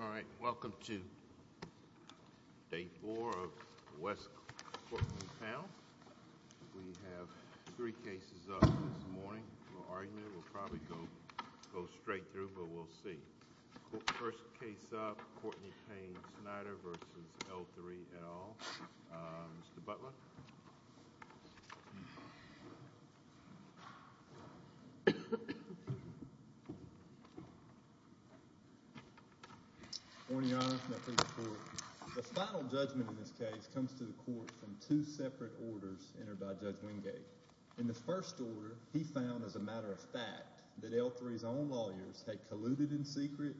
All right, welcome to day four of the West Court panel. We have three cases up this morning. We'll probably go straight through, but we'll see. First case up, Courtney Payne Snider v. L-3 L. Mr. Butler? Morning, Your Honor. Can I please report? The final judgment in this case comes to the court from two separate orders entered by Judge Wingate. In the first order, he found as a matter of fact that L-3's own lawyers had colluded in secret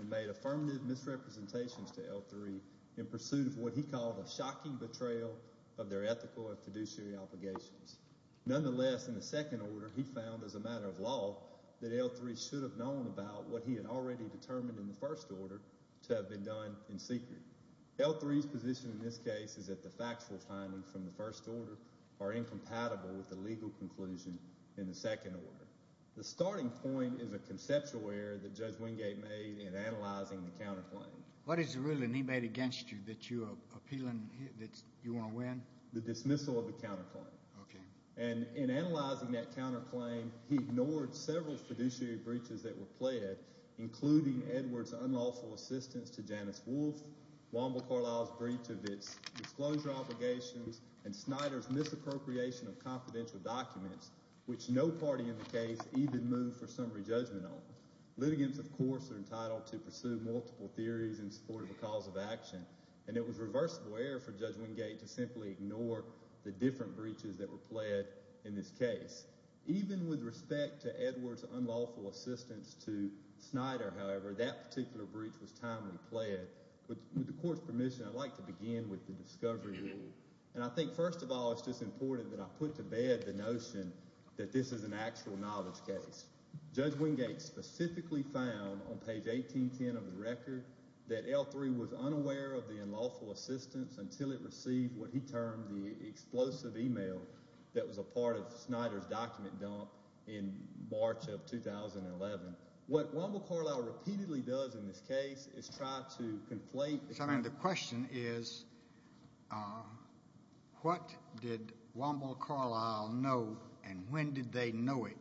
and made affirmative misrepresentations to L-3 in pursuit of what he called a shocking betrayal of their ethical and fiduciary obligations. Nonetheless, in the second order, he found as a matter of law that L-3 should have known about what he had already determined in the first order to have been done in secret. L-3's position in this case is that the factual findings from the first order are incompatible with the legal conclusion in the second order. The starting point is a conceptual error that Judge Wingate made in analyzing the counterclaim. What is the ruling he made against you that you are appealing that you want to win? The dismissal of the counterclaim. Okay. And in analyzing that counterclaim, he ignored several fiduciary breaches that were pled, including Edwards' unlawful assistance to Janice Wolfe, Wamble Carlisle's breach of its disclosure obligations, and Snider's misappropriation of confidential documents, which no party in the case even moved for summary judgment on. Litigants, of course, are entitled to pursue multiple theories in support of a cause of action, and it was reversible error for Judge Wingate to simply ignore the different breaches that were pled in this case. Even with respect to Edwards' unlawful assistance to Snider, however, that particular breach was timely pled. With the court's permission, I'd like to begin with the discovery rule. And I think, first of all, it's just important that I put to bed the notion that this is an actual knowledge case. Judge Wingate specifically found on page 1810 of his record that L3 was unaware of the unlawful assistance until it received what he termed the explosive email that was a part of Snider's document dump in March of 2011. What Wamble Carlisle repeatedly does in this case is try to conflate the facts. The question is what did Wamble Carlisle know and when did they know it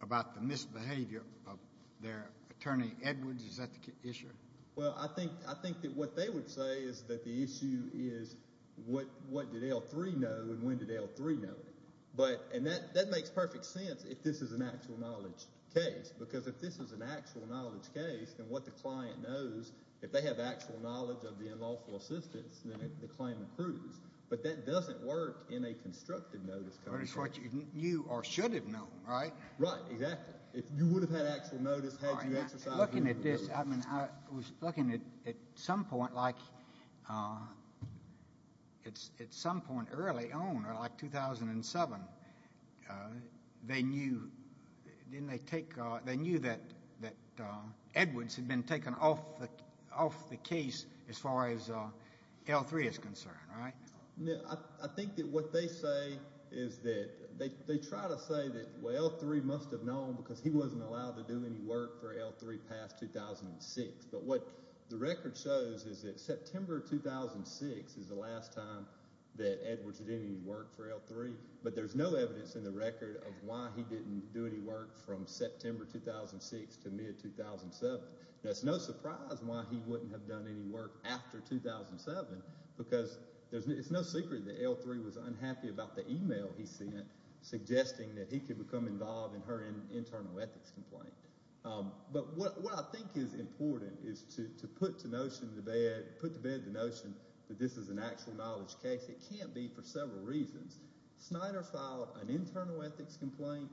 about the misbehavior of their attorney Edwards? Is that the issue? Well, I think that what they would say is that the issue is what did L3 know and when did L3 know it. And that makes perfect sense if this is an actual knowledge case, because if this is an actual knowledge case, then what the client knows, if they have actual knowledge of the unlawful assistance, then the claim accrues. But that doesn't work in a constructive notice case. That's what you knew or should have known, right? Right, exactly. If you would have had actual notice had you exercised it. I was looking at this. I mean, I was looking at some point, like, at some point early on, like 2007, they knew that Edwards had been taken off the case as far as L3 is concerned, right? I think that what they say is that they try to say that, well, L3 must have known because he wasn't allowed to do any work for L3 past 2006. But what the record shows is that September 2006 is the last time that Edwards did any work for L3. But there's no evidence in the record of why he didn't do any work from September 2006 to mid-2007. Now, it's no surprise why he wouldn't have done any work after 2007 because it's no secret that L3 was unhappy about the e-mail he sent suggesting that he could become involved in her internal ethics complaint. But what I think is important is to put to bed the notion that this is an actual knowledge case. It can't be for several reasons. Snyder filed an internal ethics complaint,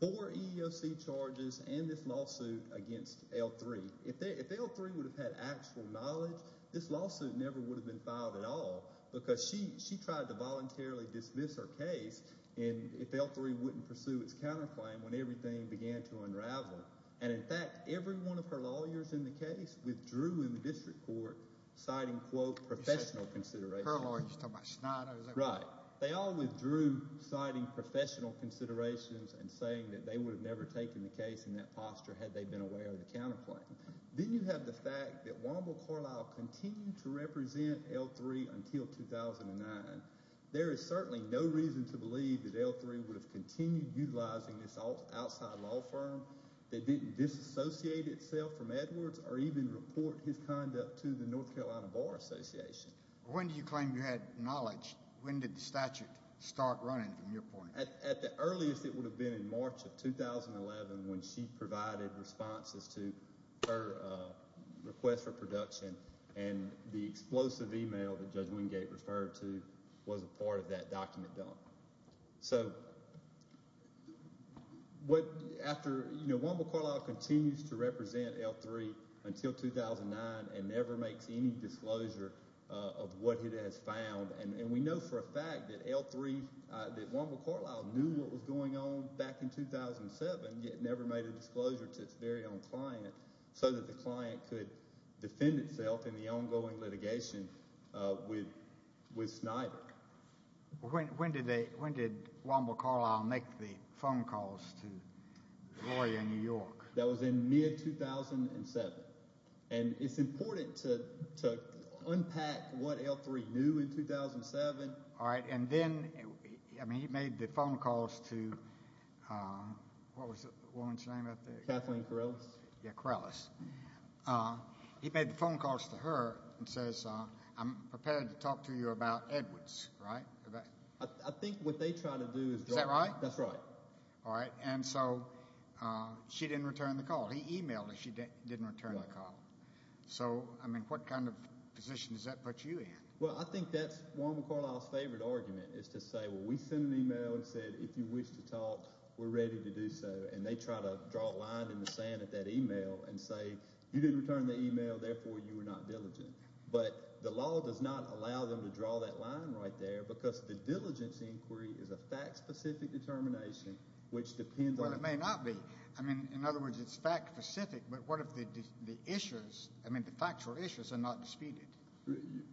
four EEOC charges, and this lawsuit against L3. If L3 would have had actual knowledge, this lawsuit never would have been filed at all because she tried to voluntarily dismiss her case if L3 wouldn't pursue its counterclaim when everything began to unravel. And, in fact, every one of her lawyers in the case withdrew in the district court citing, quote, professional considerations. Her lawyer, you're talking about Snyder. Right. They all withdrew citing professional considerations and saying that they would have never taken the case in that posture had they been aware of the counterclaim. Then you have the fact that Wamble Carlisle continued to represent L3 until 2009. There is certainly no reason to believe that L3 would have continued utilizing this outside law firm that didn't disassociate itself from Edwards or even report his conduct to the North Carolina Bar Association. When do you claim you had knowledge? When did the statute start running, from your point of view? At the earliest, it would have been in March of 2011 when she provided responses to her request for production, and the explosive email that Judge Wingate referred to was a part of that document dump. So after Wamble Carlisle continues to represent L3 until 2009 and never makes any disclosure of what it has found, and we know for a fact that L3, that Wamble Carlisle knew what was going on back in 2007 yet never made a disclosure to its very own client so that the client could defend itself in the ongoing litigation with Snyder. When did Wamble Carlisle make the phone calls to the lawyer in New York? That was in mid-2007, and it's important to unpack what L3 knew in 2007. All right, and then, I mean, he made the phone calls to, what was the woman's name? Kathleen Carellis. Yeah, Carellis. He made the phone calls to her and says, I'm prepared to talk to you about Edwards, right? I think what they try to do is draw. Is that right? That's right. All right, and so she didn't return the call. He emailed her. She didn't return the call. So, I mean, what kind of position does that put you in? Well, I think that's Wamble Carlisle's favorite argument is to say, well, we sent an email and said, if you wish to talk, we're ready to do so, and they try to draw a line in the sand at that email and say, you didn't return the email, therefore you were not diligent. But the law does not allow them to draw that line right there because the diligence inquiry is a fact-specific determination, which depends on – Well, it may not be. I mean, in other words, it's fact-specific, but what if the issues, I mean, the factual issues are not disputed?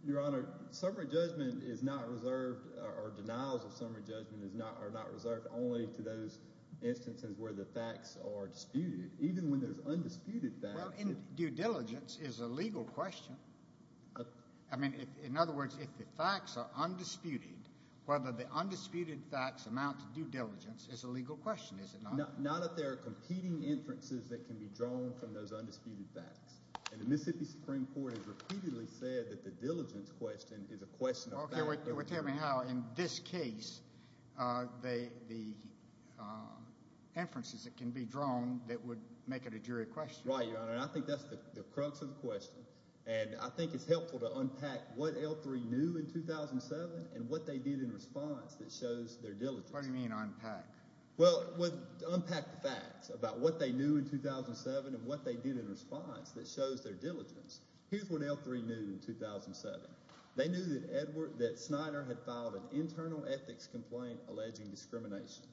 Your Honor, summary judgment is not reserved or denials of summary judgment are not reserved only to those instances where the facts are disputed. Even when there's undisputed facts – Well, due diligence is a legal question. I mean, in other words, if the facts are undisputed, whether the undisputed facts amount to due diligence is a legal question, is it not? Not if there are competing inferences that can be drawn from those undisputed facts. And the Mississippi Supreme Court has repeatedly said that the diligence question is a question of fact. Well, tell me how in this case the inferences that can be drawn that would make it a jury question. Right, Your Honor, and I think that's the crux of the question, and I think it's helpful to unpack what L3 knew in 2007 and what they did in response that shows their diligence. What do you mean unpack? Well, unpack the facts about what they knew in 2007 and what they did in response that shows their diligence. Here's what L3 knew in 2007. They knew that Edward – that Snyder had filed an internal ethics complaint alleging discrimination.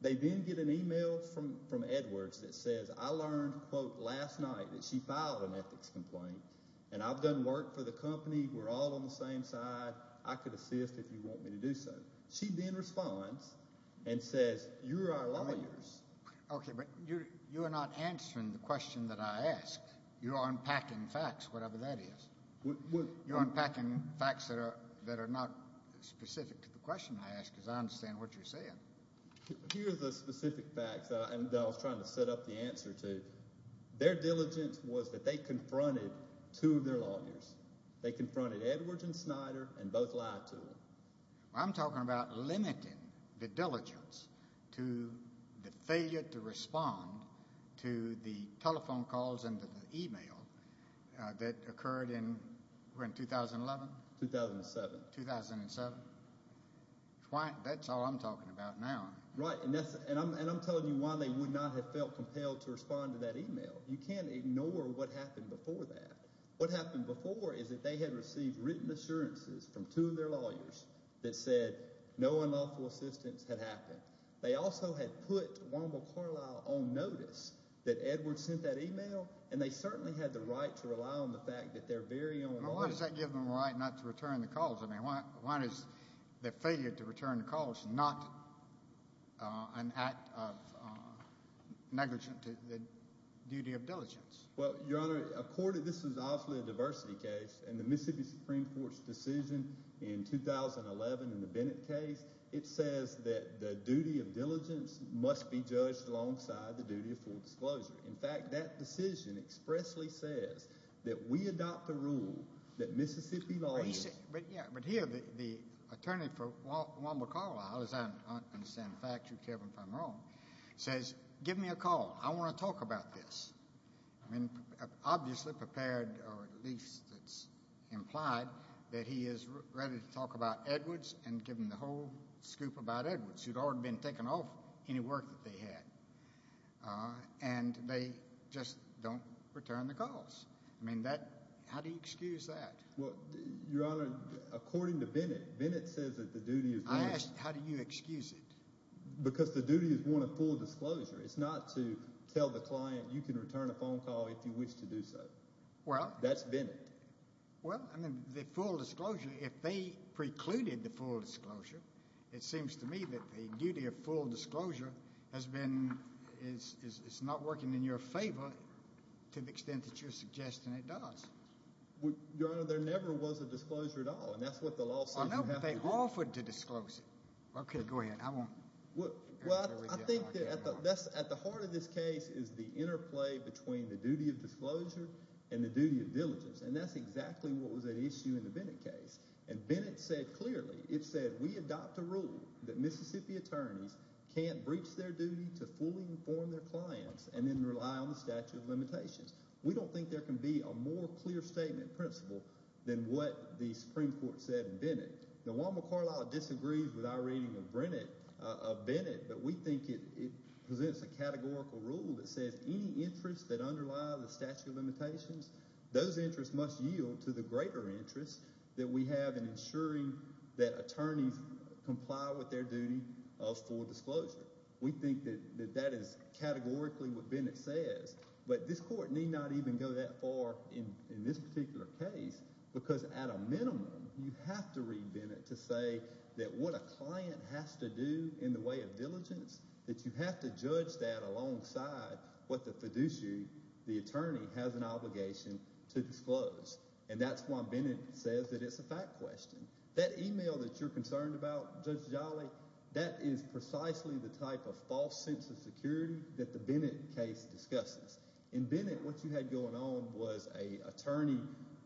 They then get an email from Edwards that says, I learned, quote, last night that she filed an ethics complaint, and I've done work for the company. We're all on the same side. I could assist if you want me to do so. She then responds and says, you're our lawyers. Okay, but you are not answering the question that I asked. You are unpacking facts, whatever that is. You're unpacking facts that are not specific to the question I asked because I understand what you're saying. Here are the specific facts that I was trying to set up the answer to. Their diligence was that they confronted two of their lawyers. They confronted Edwards and Snyder and both lied to them. I'm talking about limiting the diligence to the failure to respond to the telephone calls and to the email that occurred in 2011? 2007. 2007. That's all I'm talking about now. Right, and I'm telling you why they would not have felt compelled to respond to that email. You can't ignore what happened before that. What happened before is that they had received written assurances from two of their lawyers that said no unlawful assistance had happened. They also had put Wanda McCarlyle on notice that Edwards sent that email, and they certainly had the right to rely on the fact that their very own lawyers— Well, why does that give them the right not to return the calls? I mean why is the failure to return the calls not an act of negligence to the duty of diligence? Well, Your Honor, this is obviously a diversity case, and the Mississippi Supreme Court's decision in 2011 in the Bennett case, it says that the duty of diligence must be judged alongside the duty of full disclosure. In fact, that decision expressly says that we adopt the rule that Mississippi lawyers— Obviously prepared, or at least it's implied, that he is ready to talk about Edwards and give them the whole scoop about Edwards, who'd already been taken off any work that they had, and they just don't return the calls. I mean that—how do you excuse that? Well, Your Honor, according to Bennett, Bennett says that the duty of— I asked how do you excuse it. Because the duty is one of full disclosure. It's not to tell the client you can return a phone call if you wish to do so. Well— That's Bennett. Well, I mean the full disclosure, if they precluded the full disclosure, it seems to me that the duty of full disclosure has been—is not working in your favor to the extent that you're suggesting it does. Your Honor, there never was a disclosure at all, and that's what the law says you have to do. Okay, go ahead. I won't— Well, I think that at the heart of this case is the interplay between the duty of disclosure and the duty of diligence, and that's exactly what was at issue in the Bennett case. And Bennett said clearly—it said we adopt a rule that Mississippi attorneys can't breach their duty to fully inform their clients and then rely on the statute of limitations. We don't think there can be a more clear statement principle than what the Supreme Court said in Bennett. Now, Juan McCarlisle disagrees with our reading of Bennett, but we think it presents a categorical rule that says any interests that underlie the statute of limitations, those interests must yield to the greater interest that we have in ensuring that attorneys comply with their duty of full disclosure. We think that that is categorically what Bennett says, but this Court need not even go that far in this particular case because at a minimum, you have to read Bennett to say that what a client has to do in the way of diligence, that you have to judge that alongside what the fiduciary, the attorney, has an obligation to disclose, and that's why Bennett says that it's a fact question. That email that you're concerned about, Judge Jolly, that is precisely the type of false sense of security that the Bennett case discusses. In Bennett, what you had going on was an attorney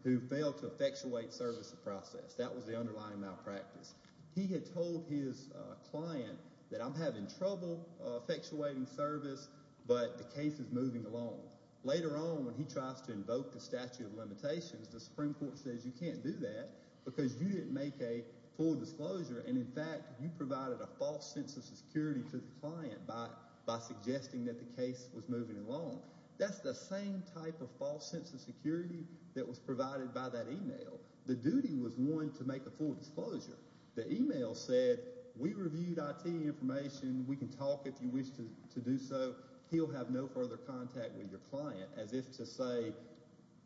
who failed to effectuate service of process. That was the underlying malpractice. He had told his client that I'm having trouble effectuating service, but the case is moving along. Later on when he tries to invoke the statute of limitations, the Supreme Court says you can't do that because you didn't make a full disclosure and, in fact, you provided a false sense of security to the client by suggesting that the case was moving along. That's the same type of false sense of security that was provided by that email. The duty was one to make a full disclosure. The email said we reviewed IT information. We can talk if you wish to do so. He'll have no further contact with your client as if to say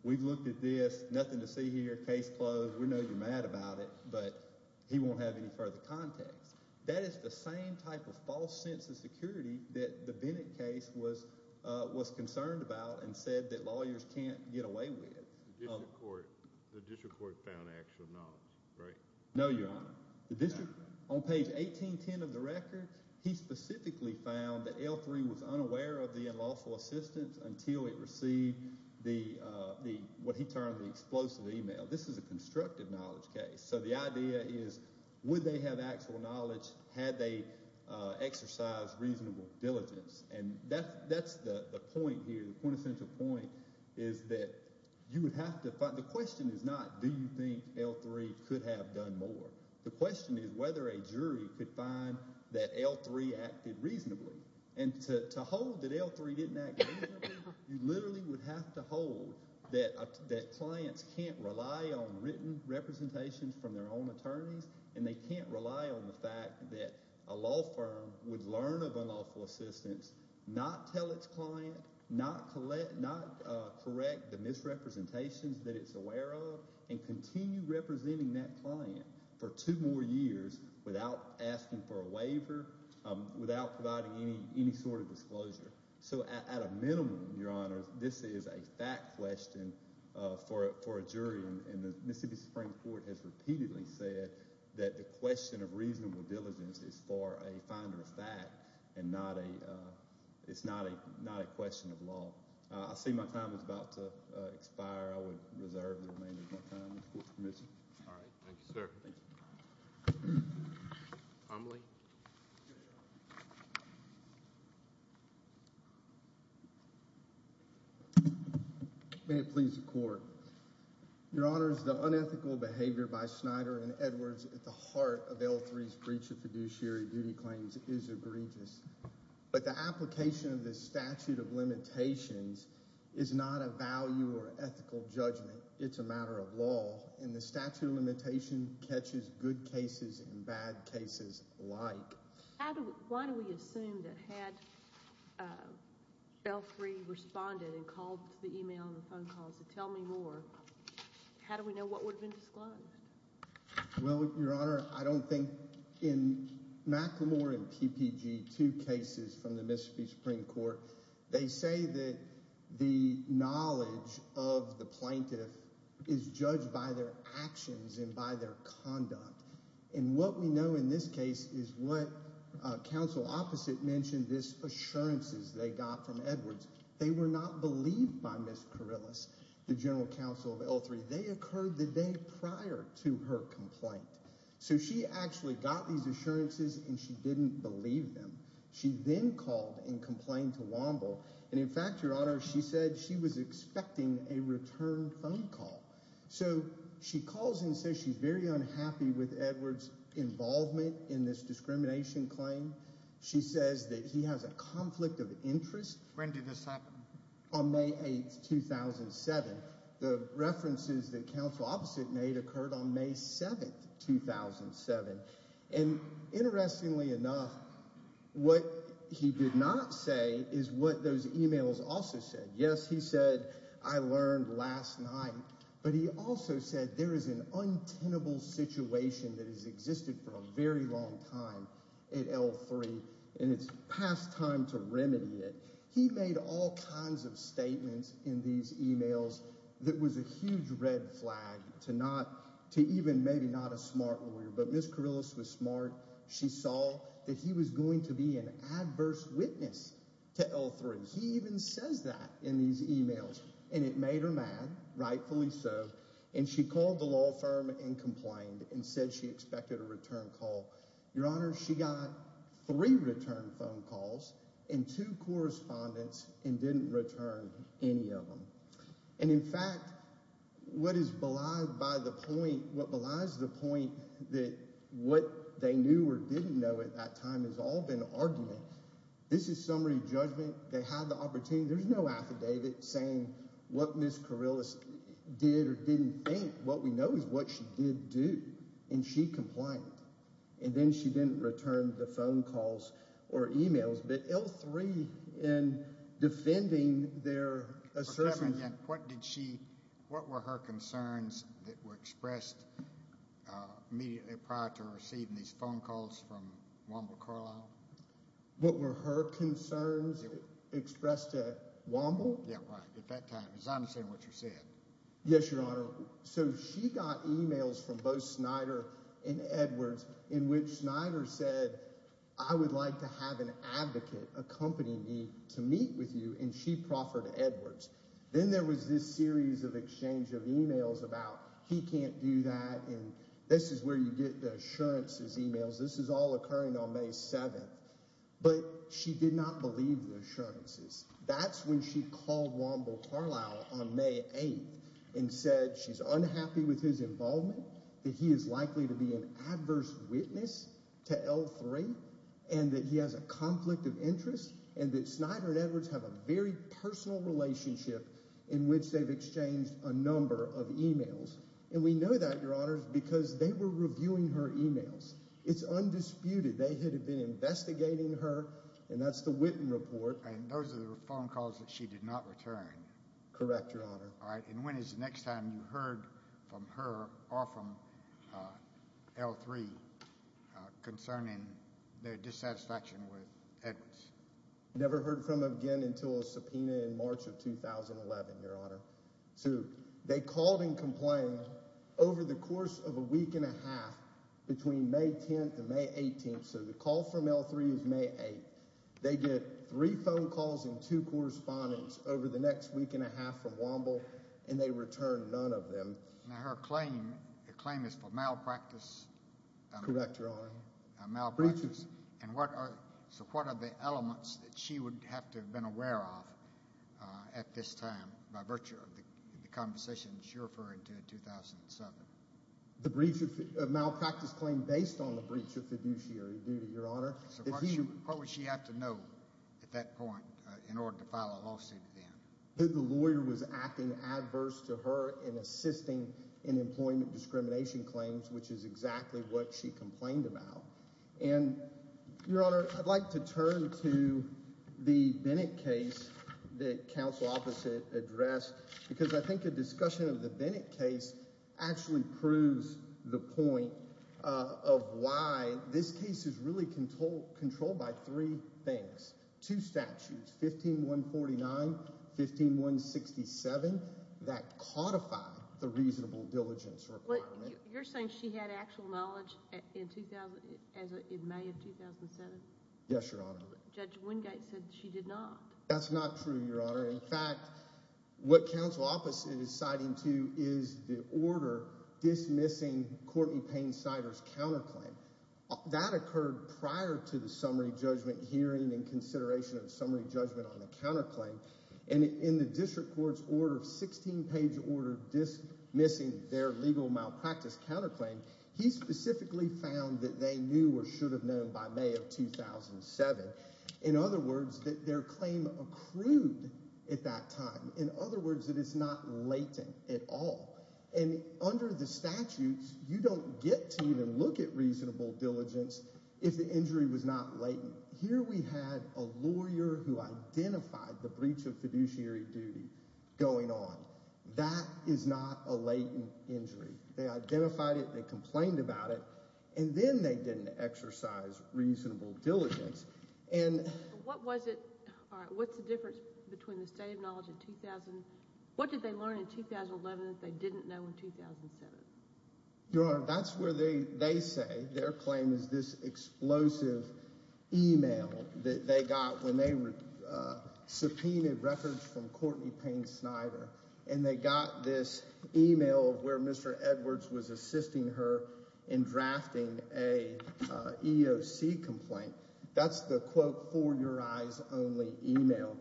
we've looked at this, nothing to see here, case closed. We know you're mad about it, but he won't have any further contacts. That is the same type of false sense of security that the Bennett case was concerned about and said that lawyers can't get away with. The district court found actual knowledge, right? No, Your Honor. On page 1810 of the record, he specifically found that L3 was unaware of the unlawful assistance until it received what he termed the explosive email. This is a constructive knowledge case, so the idea is would they have actual knowledge had they exercised reasonable diligence? And that's the point here, the quintessential point, is that you would have to find—the question is not do you think L3 could have done more. The question is whether a jury could find that L3 acted reasonably. And to hold that L3 didn't act reasonably, you literally would have to hold that clients can't rely on written representations from their own attorneys and they can't rely on the fact that a law firm would learn of unlawful assistance, not tell its client, not correct the misrepresentations that it's aware of, and continue representing that client for two more years without asking for a waiver, without providing any sort of disclosure. So at a minimum, Your Honor, this is a fact question for a jury. And the Mississippi Supreme Court has repeatedly said that the question of reasonable diligence is for a finder of fact and not a—it's not a question of law. I see my time is about to expire. I would reserve the remainder of my time with the court's permission. All right. Thank you, sir. Thank you. Tom Lee. May it please the court. Your Honors, the unethical behavior by Snyder and Edwards at the heart of L3's breach of fiduciary duty claims is egregious. But the application of this statute of limitations is not a value or ethical judgment. It's a matter of law, and the statute of limitation catches good cases and bad cases alike. Why do we assume that had L3 responded and called to the email and the phone calls to tell me more, how do we know what would have been disclosed? Well, Your Honor, I don't think – in McLemore and PPG, two cases from the Mississippi Supreme Court, they say that the knowledge of the plaintiff is judged by their actions and by their conduct. And what we know in this case is what counsel opposite mentioned, this assurances they got from Edwards. They were not believed by Ms. Kourilas, the general counsel of L3. They occurred the day prior to her complaint. So she actually got these assurances and she didn't believe them. She then called and complained to Wamble. And, in fact, Your Honor, she said she was expecting a return phone call. So she calls and says she's very unhappy with Edwards' involvement in this discrimination claim. She says that he has a conflict of interest. When did this happen? On May 8, 2007. The references that counsel opposite made occurred on May 7, 2007. And interestingly enough, what he did not say is what those emails also said. Yes, he said, I learned last night. But he also said there is an untenable situation that has existed for a very long time at L3 and it's past time to remedy it. He made all kinds of statements in these emails that was a huge red flag to not – to even maybe not a smart lawyer. But Ms. Kourilas was smart. She saw that he was going to be an adverse witness to L3. He even says that in these emails. And it made her mad, rightfully so. And she called the law firm and complained and said she expected a return call. Your Honor, she got three return phone calls and two correspondence and didn't return any of them. And, in fact, what is belied by the point – what belies the point that what they knew or didn't know at that time has all been argument, this is summary judgment. They had the opportunity – there's no affidavit saying what Ms. Kourilas did or didn't think. What we know is what she did do. And she complained. And then she didn't return the phone calls or emails. But L3, in defending their assertion – What did she – what were her concerns that were expressed immediately prior to her receiving these phone calls from Womble Carlisle? What were her concerns expressed to Womble? Yeah, right, at that time. Because I understand what you said. Yes, Your Honor. So she got emails from both Snyder and Edwards in which Snyder said, I would like to have an advocate accompany me to meet with you. And she proffered Edwards. Then there was this series of exchange of emails about he can't do that. And this is where you get the assurances emails. This is all occurring on May 7th. But she did not believe the assurances. That's when she called Womble Carlisle on May 8th and said she's unhappy with his involvement, that he is likely to be an adverse witness to L3, and that he has a conflict of interest, and that Snyder and Edwards have a very personal relationship in which they've exchanged a number of emails. And we know that, Your Honor, because they were reviewing her emails. It's undisputed. They had been investigating her, and that's the Witten report. And those are the phone calls that she did not return. Correct, Your Honor. All right. And when is the next time you heard from her or from L3 concerning their dissatisfaction with Edwards? Never heard from them again until a subpoena in March of 2011, Your Honor. So they called and complained over the course of a week and a half between May 10th and May 18th. So the call from L3 is May 8th. They get three phone calls and two correspondence over the next week and a half from Womble, and they return none of them. Now, her claim is for malpractice. Correct, Your Honor. Malpractice. Breaches. So what are the elements that she would have to have been aware of at this time by virtue of the conversation she referred to in 2007? The breach of malpractice claim based on the breach of fiduciary duty, Your Honor. So what would she have to know at that point in order to file a lawsuit then? That the lawyer was acting adverse to her in assisting in employment discrimination claims, which is exactly what she complained about. And, Your Honor, I'd like to turn to the Bennett case that counsel opposite addressed because I think a discussion of the Bennett case actually proves the point of why this case is really controlled by three things. Two statutes, 15149, 15167, that codify the reasonable diligence requirement. You're saying she had actual knowledge in May of 2007? Yes, Your Honor. Judge Wingate said she did not. That's not true, Your Honor. In fact, what counsel opposite is citing too is the order dismissing Courtney Payne Snyder's counterclaim. That occurred prior to the summary judgment hearing and consideration of summary judgment on the counterclaim. And in the district court's order of 16-page order dismissing their legal malpractice counterclaim, he specifically found that they knew or should have known by May of 2007. In other words, that their claim accrued at that time. In other words, that it's not latent at all. And under the statutes, you don't get to even look at reasonable diligence if the injury was not latent. Here we had a lawyer who identified the breach of fiduciary duty going on. That is not a latent injury. They identified it. They complained about it. And then they didn't exercise reasonable diligence. And what was it – what's the difference between the state of knowledge in 2000 – what did they learn in 2011 that they didn't know in 2007? Your Honor, that's where they say their claim is this explosive, email that they got when they subpoenaed records from Courtney Payne Snyder. And they got this email where Mr. Edwards was assisting her in drafting a EOC complaint. That's the, quote, for your eyes only email.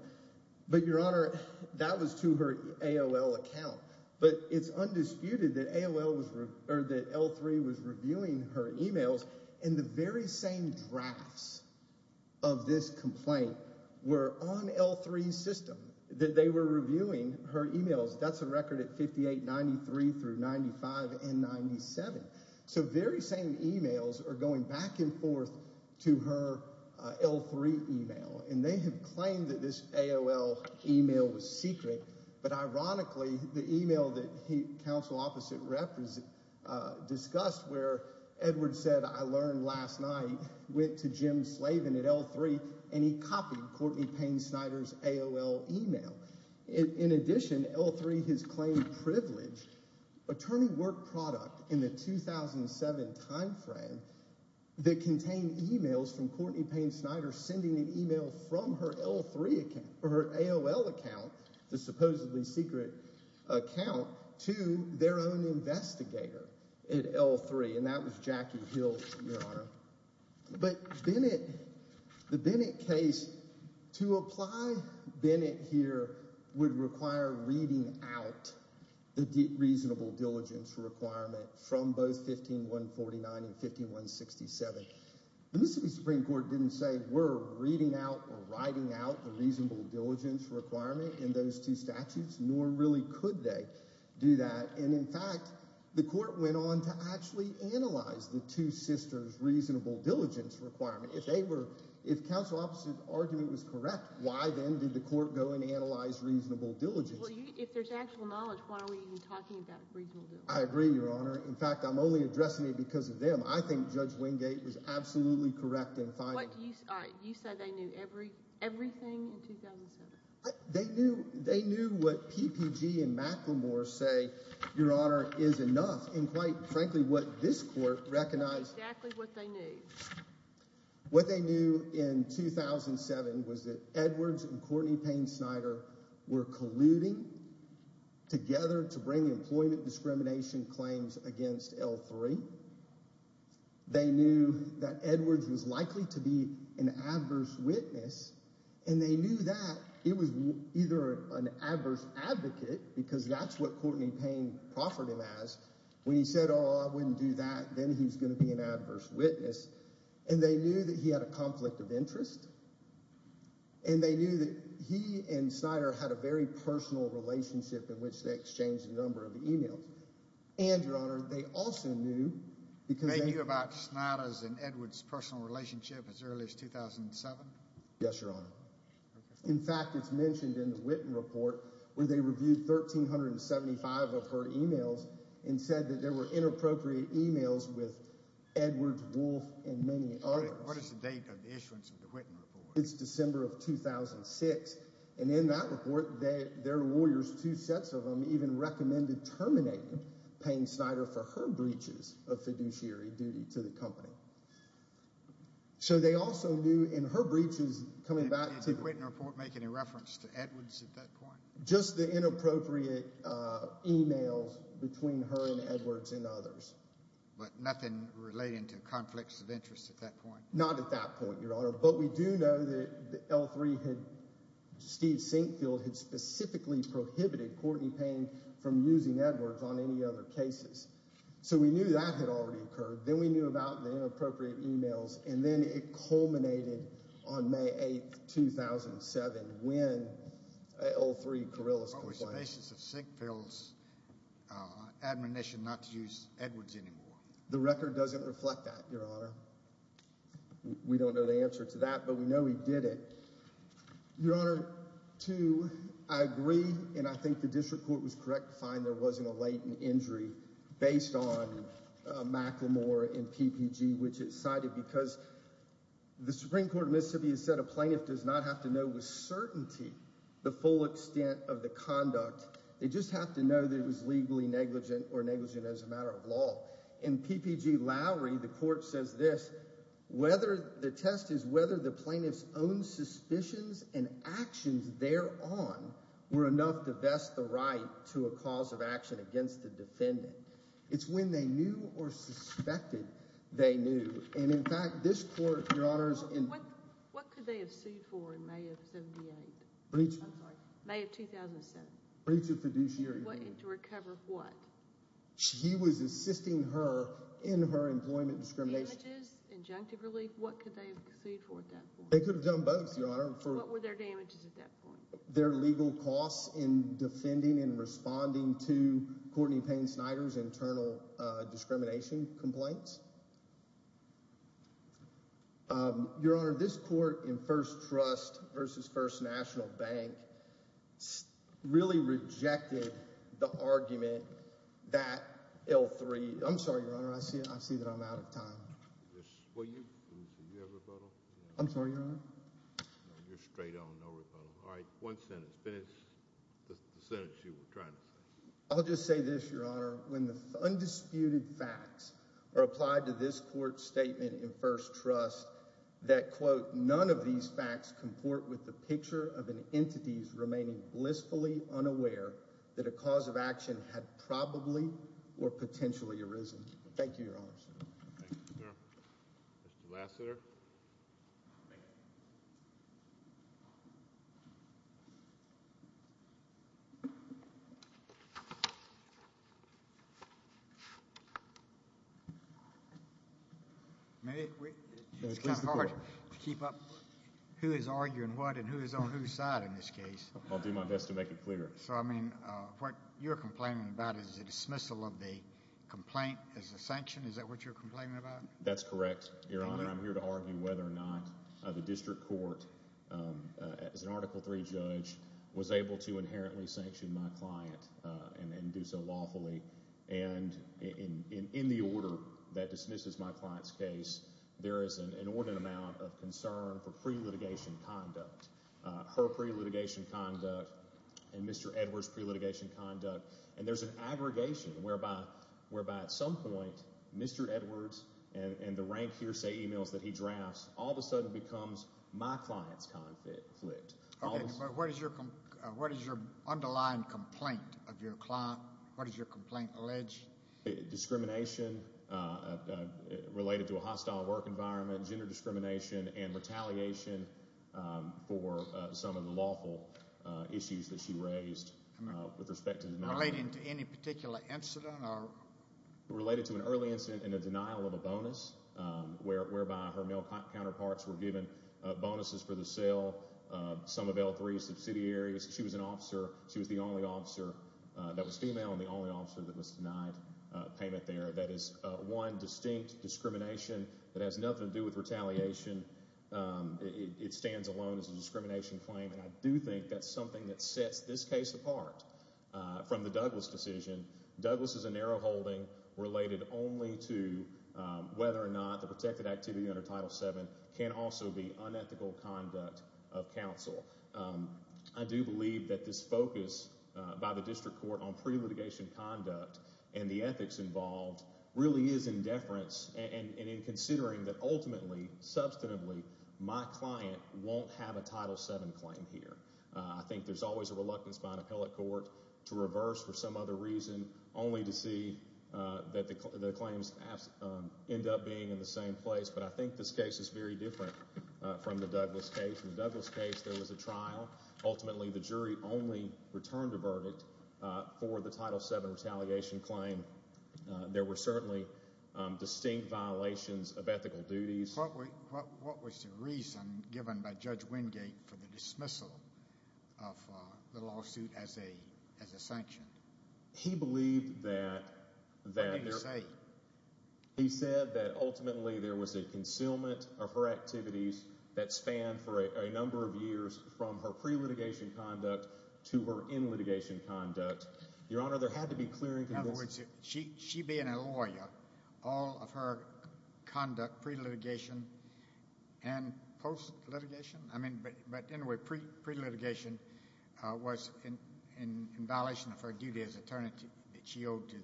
But, Your Honor, that was to her AOL account. But it's undisputed that AOL was – or that L3 was reviewing her emails. And the very same drafts of this complaint were on L3's system, that they were reviewing her emails. That's a record at 5893 through 95 and 97. So very same emails are going back and forth to her L3 email. And they have claimed that this AOL email was secret. But ironically, the email that the counsel opposite discussed where Edwards said, I learned last night, went to Jim Slavin at L3, and he copied Courtney Payne Snyder's AOL email. In addition, L3 has claimed privileged attorney work product in the 2007 timeframe that contained emails from Courtney Payne Snyder sending an email from her L3 account – or her AOL account, the supposedly secret account – to their own investigator at L3. And that was Jackie Hill, Your Honor. But Bennett – the Bennett case – to apply Bennett here would require reading out the reasonable diligence requirement from both 15149 and 15167. The Mississippi Supreme Court didn't say we're reading out or writing out the reasonable diligence requirement in those two statutes, nor really could they do that. And in fact, the court went on to actually analyze the two sisters' reasonable diligence requirement. If they were – if counsel opposite's argument was correct, why then did the court go and analyze reasonable diligence? Well, if there's actual knowledge, why are we even talking about reasonable diligence? I agree, Your Honor. In fact, I'm only addressing it because of them. I think Judge Wingate was absolutely correct in finding – What – you say they knew everything in 2007? They knew what PPG and McLemore say, Your Honor, is enough. And quite frankly, what this court recognized – That's exactly what they knew. What they knew in 2007 was that Edwards and Courtney Payne Snyder were colluding together to bring employment discrimination claims against L3. They knew that Edwards was likely to be an adverse witness, and they knew that it was either an adverse advocate because that's what Courtney Payne proffered him as. When he said, oh, I wouldn't do that, then he was going to be an adverse witness. And they knew that he had a conflict of interest. And they knew that he and Snyder had a very personal relationship in which they exchanged a number of emails. And, Your Honor, they also knew – They knew about Snyder's and Edwards' personal relationship as early as 2007? Yes, Your Honor. In fact, it's mentioned in the Whitten report where they reviewed 1,375 of her emails and said that there were inappropriate emails with Edwards, Wolf, and many others. What is the date of the issuance of the Whitten report? It's December of 2006. And in that report, their lawyers, two sets of them, even recommended terminating Payne Snyder for her breaches of fiduciary duty to the company. So they also knew in her breaches coming back to – Did the Whitten report make any reference to Edwards at that point? Just the inappropriate emails between her and Edwards and others. But nothing relating to conflicts of interest at that point? Not at that point, Your Honor. But we do know that L3 had – Steve Sinkfield had specifically prohibited Courtney Payne from using Edwards on any other cases. So we knew that had already occurred. Then we knew about the inappropriate emails. And then it culminated on May 8, 2007, when L3, Carrillo's complaint – The record doesn't reflect that, Your Honor. We don't know the answer to that, but we know he did it. Your Honor, two, I agree and I think the district court was correct to find there wasn't a latent injury based on Macklemore and PPG, which it cited because the Supreme Court of Mississippi has said a plaintiff does not have to know with certainty the full extent of the conduct. They just have to know that it was legally negligent or negligent as a matter of law. In PPG-Lowry, the court says this. The test is whether the plaintiff's own suspicions and actions thereon were enough to vest the right to a cause of action against the defendant. It's when they knew or suspected they knew. And in fact, this court, Your Honor – What could they have sued for in May of 78? I'm sorry. May of 2007. Breach of fiduciary agreement. To recover what? He was assisting her in her employment discrimination. Damages? Injunctive relief? What could they have sued for at that point? They could have done both, Your Honor. What were their damages at that point? Their legal costs in defending and responding to Courtney Payne Snyder's internal discrimination complaints. Your Honor, this court in First Trust v. First National Bank really rejected the argument that L3 – I'm sorry, Your Honor, I see that I'm out of time. Well, you have a rebuttal? I'm sorry, Your Honor. You're straight on, no rebuttal. All right, one sentence. Finish the sentence you were trying to say. I'll just say this, Your Honor. When the undisputed facts are applied to this court's statement in First Trust that, quote, none of these facts comport with the picture of an entity's remaining blissfully unaware that a cause of action had probably or potentially arisen. Thank you, Your Honors. Thank you, sir. Mr. Lassiter. Thank you. It's kind of hard to keep up who is arguing what and who is on whose side in this case. I'll do my best to make it clear. So, I mean, what you're complaining about is the dismissal of the complaint as a sanction? Is that what you're complaining about? That's correct, Your Honor. I'm here to argue whether or not the district court, as an Article III judge, was able to inherently sanction my client and do so lawfully. And in the order that dismisses my client's case, there is an inordinate amount of concern for pre-litigation conduct. Her pre-litigation conduct and Mr. Edwards' pre-litigation conduct. And there's an aggregation whereby at some point Mr. Edwards and the rank hearsay emails that he drafts all of a sudden becomes my client's conflict. Okay. But what is your underlying complaint of your client? What does your complaint allege? Discrimination related to a hostile work environment, gender discrimination, and retaliation for some of the lawful issues that she raised with respect to the— Relating to any particular incident or— Related to an early incident and a denial of a bonus, whereby her male counterparts were given bonuses for the sale of some of L3 subsidiaries. She was an officer. She was the only officer that was female and the only officer that was denied payment there. That is one distinct discrimination that has nothing to do with retaliation. It stands alone as a discrimination claim. And I do think that's something that sets this case apart from the Douglas decision. Douglas is a narrow holding related only to whether or not the protected activity under Title VII can also be unethical conduct of counsel. I do believe that this focus by the district court on pre-litigation conduct and the ethics involved really is in deference and in considering that ultimately, substantively, my client won't have a Title VII claim here. I think there's always a reluctance by an appellate court to reverse for some other reason only to see that the claims end up being in the same place. But I think this case is very different from the Douglas case. In the Douglas case, there was a trial. Ultimately, the jury only returned a verdict for the Title VII retaliation claim. There were certainly distinct violations of ethical duties. What was the reason given by Judge Wingate for the dismissal of the lawsuit as a sanction? He believed that there— What did he say? He said that ultimately there was a concealment of her activities that spanned for a number of years from her pre-litigation conduct to her in-litigation conduct. Your Honor, there had to be clear and convincing— In other words, she being a lawyer, all of her conduct pre-litigation and post-litigation? I mean, but anyway, pre-litigation was in violation of her duty as attorney that she owed to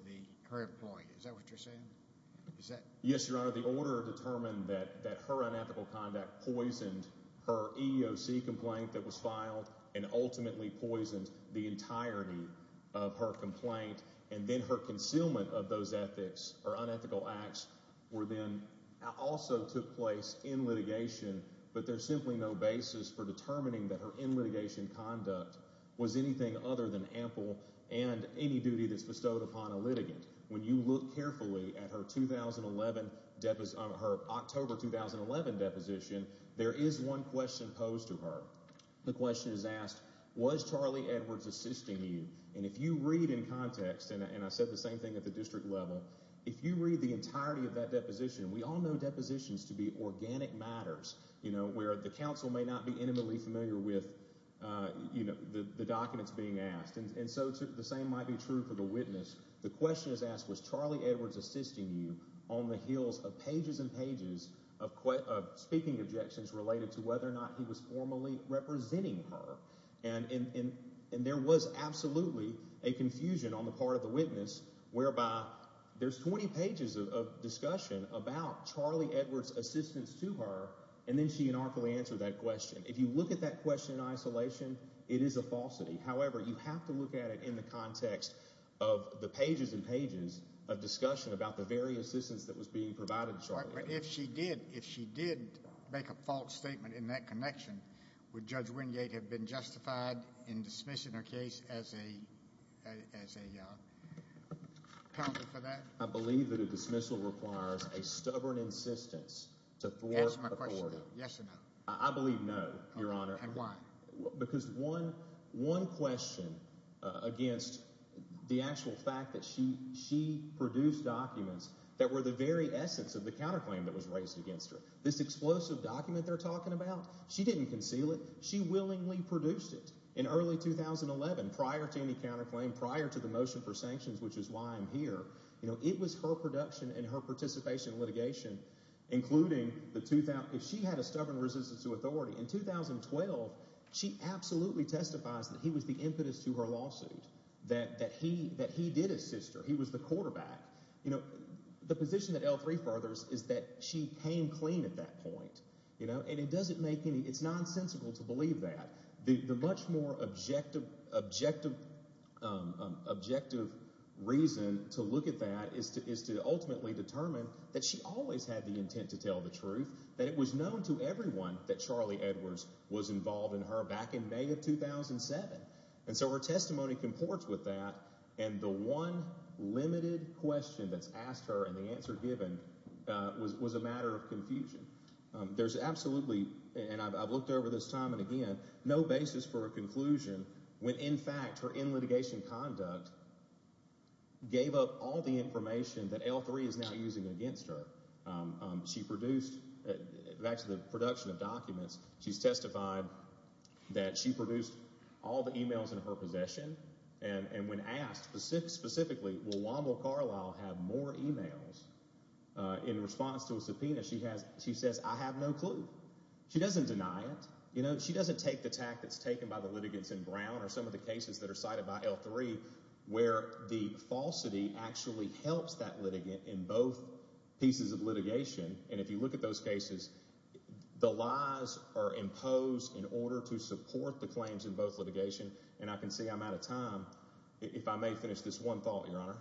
her employee. Is that what you're saying? Yes, Your Honor. The order determined that her unethical conduct poisoned her EEOC complaint that was filed and ultimately poisoned the entirety of her complaint, and then her concealment of those ethics or unethical acts also took place in litigation, but there's simply no basis for determining that her in-litigation conduct was anything other than ample and any duty that's bestowed upon a litigant. When you look carefully at her October 2011 deposition, there is one question posed to her. The question is asked, was Charlie Edwards assisting you? And if you read in context—and I said the same thing at the district level— if you read the entirety of that deposition, we all know depositions to be organic matters, where the counsel may not be intimately familiar with the documents being asked, and so the same might be true for the witness. The question is asked, was Charlie Edwards assisting you on the heels of pages and pages of speaking objections related to whether or not he was formally representing her? And there was absolutely a confusion on the part of the witness whereby there's 20 pages of discussion about Charlie Edwards' assistance to her, and then she unarticulately answered that question. If you look at that question in isolation, it is a falsity. However, you have to look at it in the context of the pages and pages of discussion But if she did, if she did make a false statement in that connection, would Judge Wingate have been justified in dismissing her case as a penalty for that? I believe that a dismissal requires a stubborn insistence to thwart authority. Yes or no? I believe no, Your Honor. And why? Because one question against the actual fact that she produced documents that were the very essence of the counterclaim that was raised against her. This explosive document they're talking about, she didn't conceal it. She willingly produced it. In early 2011, prior to any counterclaim, prior to the motion for sanctions, which is why I'm here, it was her production and her participation in litigation, including if she had a stubborn resistance to authority. In 2012, she absolutely testifies that he was the impetus to her lawsuit, that he did assist her. He was the quarterback. The position that L3 furthers is that she came clean at that point. And it doesn't make any—it's nonsensical to believe that. The much more objective reason to look at that is to ultimately determine that she always had the intent to tell the truth, that it was known to everyone that Charlie Edwards was involved in her back in May of 2007. And so her testimony comports with that. And the one limited question that's asked her and the answer given was a matter of confusion. There's absolutely—and I've looked over this time and again— no basis for a conclusion when, in fact, her end litigation conduct gave up all the information that L3 is now using against her. She produced—back to the production of documents, she's testified that she produced all the emails in her possession. And when asked specifically, will Wanda Carlisle have more emails in response to a subpoena, she says, I have no clue. She doesn't deny it. She doesn't take the tact that's taken by the litigants in Brown or some of the cases that are cited by L3 where the falsity actually helps that litigant in both pieces of litigation. And if you look at those cases, the lies are imposed in order to support the claims in both litigation. And I can see I'm out of time. If I may finish this one thought, Your Honor.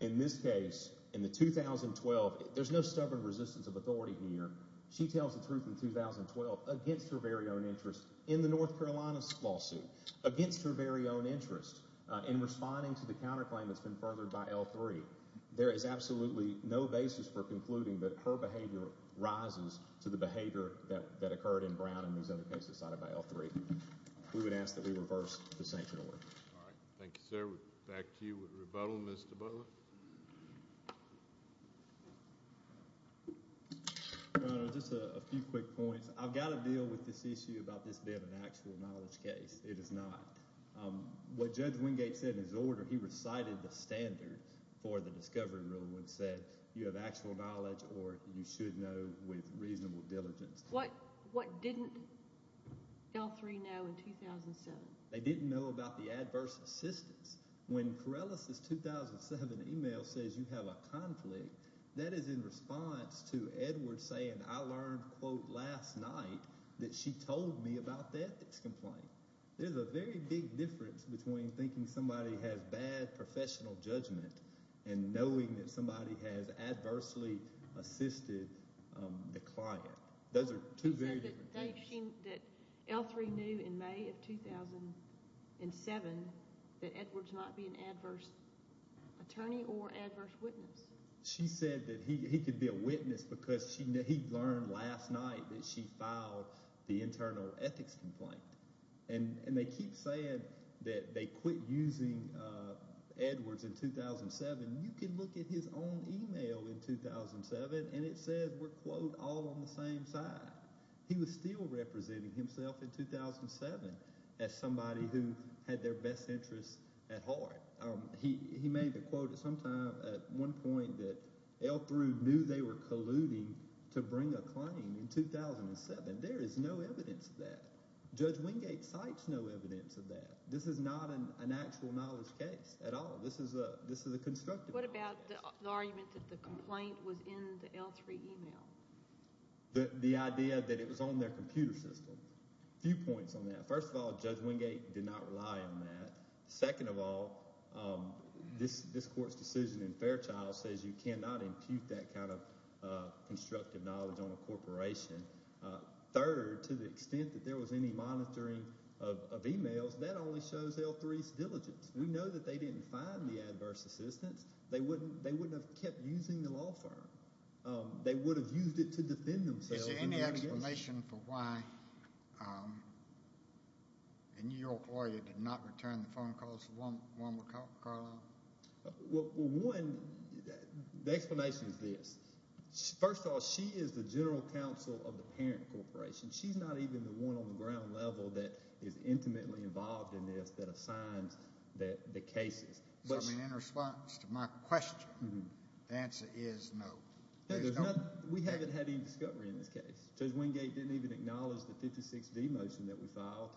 In this case, in the 2012—there's no stubborn resistance of authority here. She tells the truth in 2012 against her very own interests in the North Carolina lawsuit, against her very own interests in responding to the counterclaim that's been furthered by L3. There is absolutely no basis for concluding that her behavior rises to the behavior that occurred in Brown and those other cases cited by L3. We would ask that we reverse the sanction order. All right. Thank you, sir. Back to you with rebuttal, Mr. Butler. Your Honor, just a few quick points. I've got to deal with this issue about this being an actual knowledge case. It is not. What Judge Wingate said in his order, he recited the standard for the discovery rule and said you have actual knowledge or you should know with reasonable diligence. What didn't L3 know in 2007? They didn't know about the adverse assistance. When Corellis's 2007 email says you have a conflict, that is in response to Edwards saying I learned, quote, last night that she told me about the ethics complaint. There's a very big difference between thinking somebody has bad professional judgment and knowing that somebody has adversely assisted the client. Those are two very different things. She said that L3 knew in May of 2007 that Edwards might be an adverse attorney or adverse witness. She said that he could be a witness because he learned last night that she filed the internal ethics complaint. And they keep saying that they quit using Edwards in 2007. You can look at his own email in 2007, and it says we're, quote, all on the same side. He was still representing himself in 2007 as somebody who had their best interests at heart. He made the quote sometime at one point that L3 knew they were colluding to bring a claim in 2007. There is no evidence of that. Judge Wingate cites no evidence of that. This is not an actual knowledge case at all. This is a constructive knowledge case. What about the argument that the complaint was in the L3 email? The idea that it was on their computer system. A few points on that. First of all, Judge Wingate did not rely on that. Second of all, this court's decision in Fairchild says you cannot impute that kind of constructive knowledge on a corporation. Third, to the extent that there was any monitoring of emails, that only shows L3's diligence. We know that they didn't find the adverse assistance. They wouldn't have kept using the law firm. They would have used it to defend themselves. Is there any explanation for why a New York lawyer did not return the phone calls to one McCarland? Well, one, the explanation is this. First of all, she is the general counsel of the parent corporation. She's not even the one on the ground level that is intimately involved in this that assigns the cases. So in response to my question, the answer is no. We haven't had any discovery in this case. Judge Wingate didn't even acknowledge the 56D motion that we filed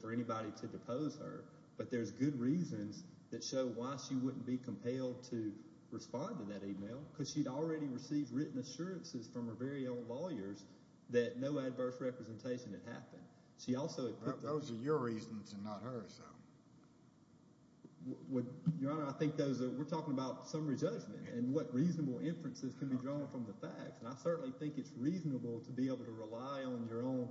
for anybody to depose her. But there's good reasons that show why she wouldn't be compelled to respond to that email because she'd already received written assurances from her very own lawyers that no adverse representation had happened. Those are your reasons and not hers. Your Honor, I think those are – we're talking about summary judgment and what reasonable inferences can be drawn from the facts. And I certainly think it's reasonable to be able to rely on your own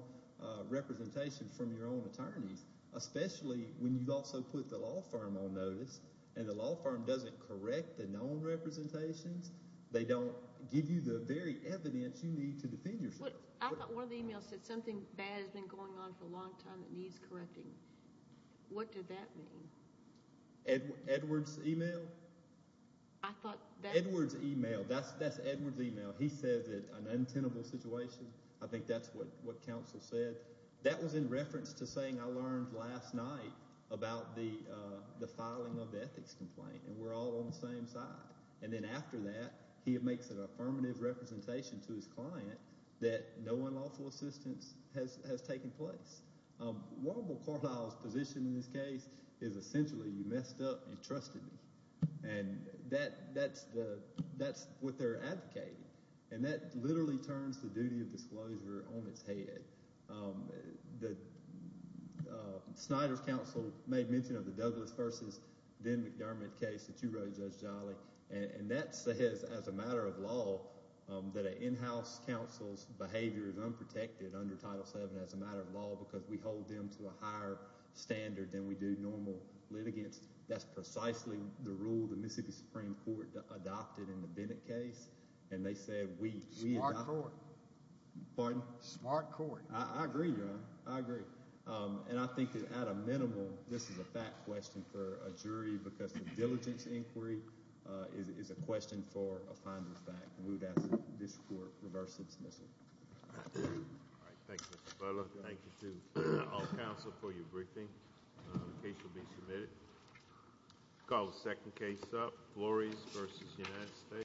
representation from your own attorneys, especially when you've also put the law firm on notice and the law firm doesn't correct the known representations. They don't give you the very evidence you need to defend yourself. But I thought one of the emails said something bad has been going on for a long time that needs correcting. What did that mean? Edward's email? I thought that – Edward's email. That's Edward's email. He said that an untenable situation. I think that's what counsel said. He said that that was in reference to saying I learned last night about the filing of the ethics complaint and we're all on the same side. And then after that, he makes an affirmative representation to his client that no unlawful assistance has taken place. Warren B. Cordell's position in this case is essentially you messed up and trusted me. And that's what they're advocating. And that literally turns the duty of disclosure on its head. The – Snyder's counsel made mention of the Douglas v. Den McDermott case that you wrote, Judge Jolly. And that says as a matter of law that an in-house counsel's behavior is unprotected under Title VII as a matter of law because we hold them to a higher standard than we do normal litigants. That's precisely the rule the Mississippi Supreme Court adopted in the Bennett case. And they said we – Smart court. Pardon? Smart court. I agree, Your Honor. I agree. And I think that at a minimal, this is a fact question for a jury because the diligence inquiry is a question for a final fact. And we would ask that this court reverse its mission. All right. Thank you, Mr. Butler. Thank you to all counsel for your briefing. The case will be submitted. Call the second case up, Flores v. United States.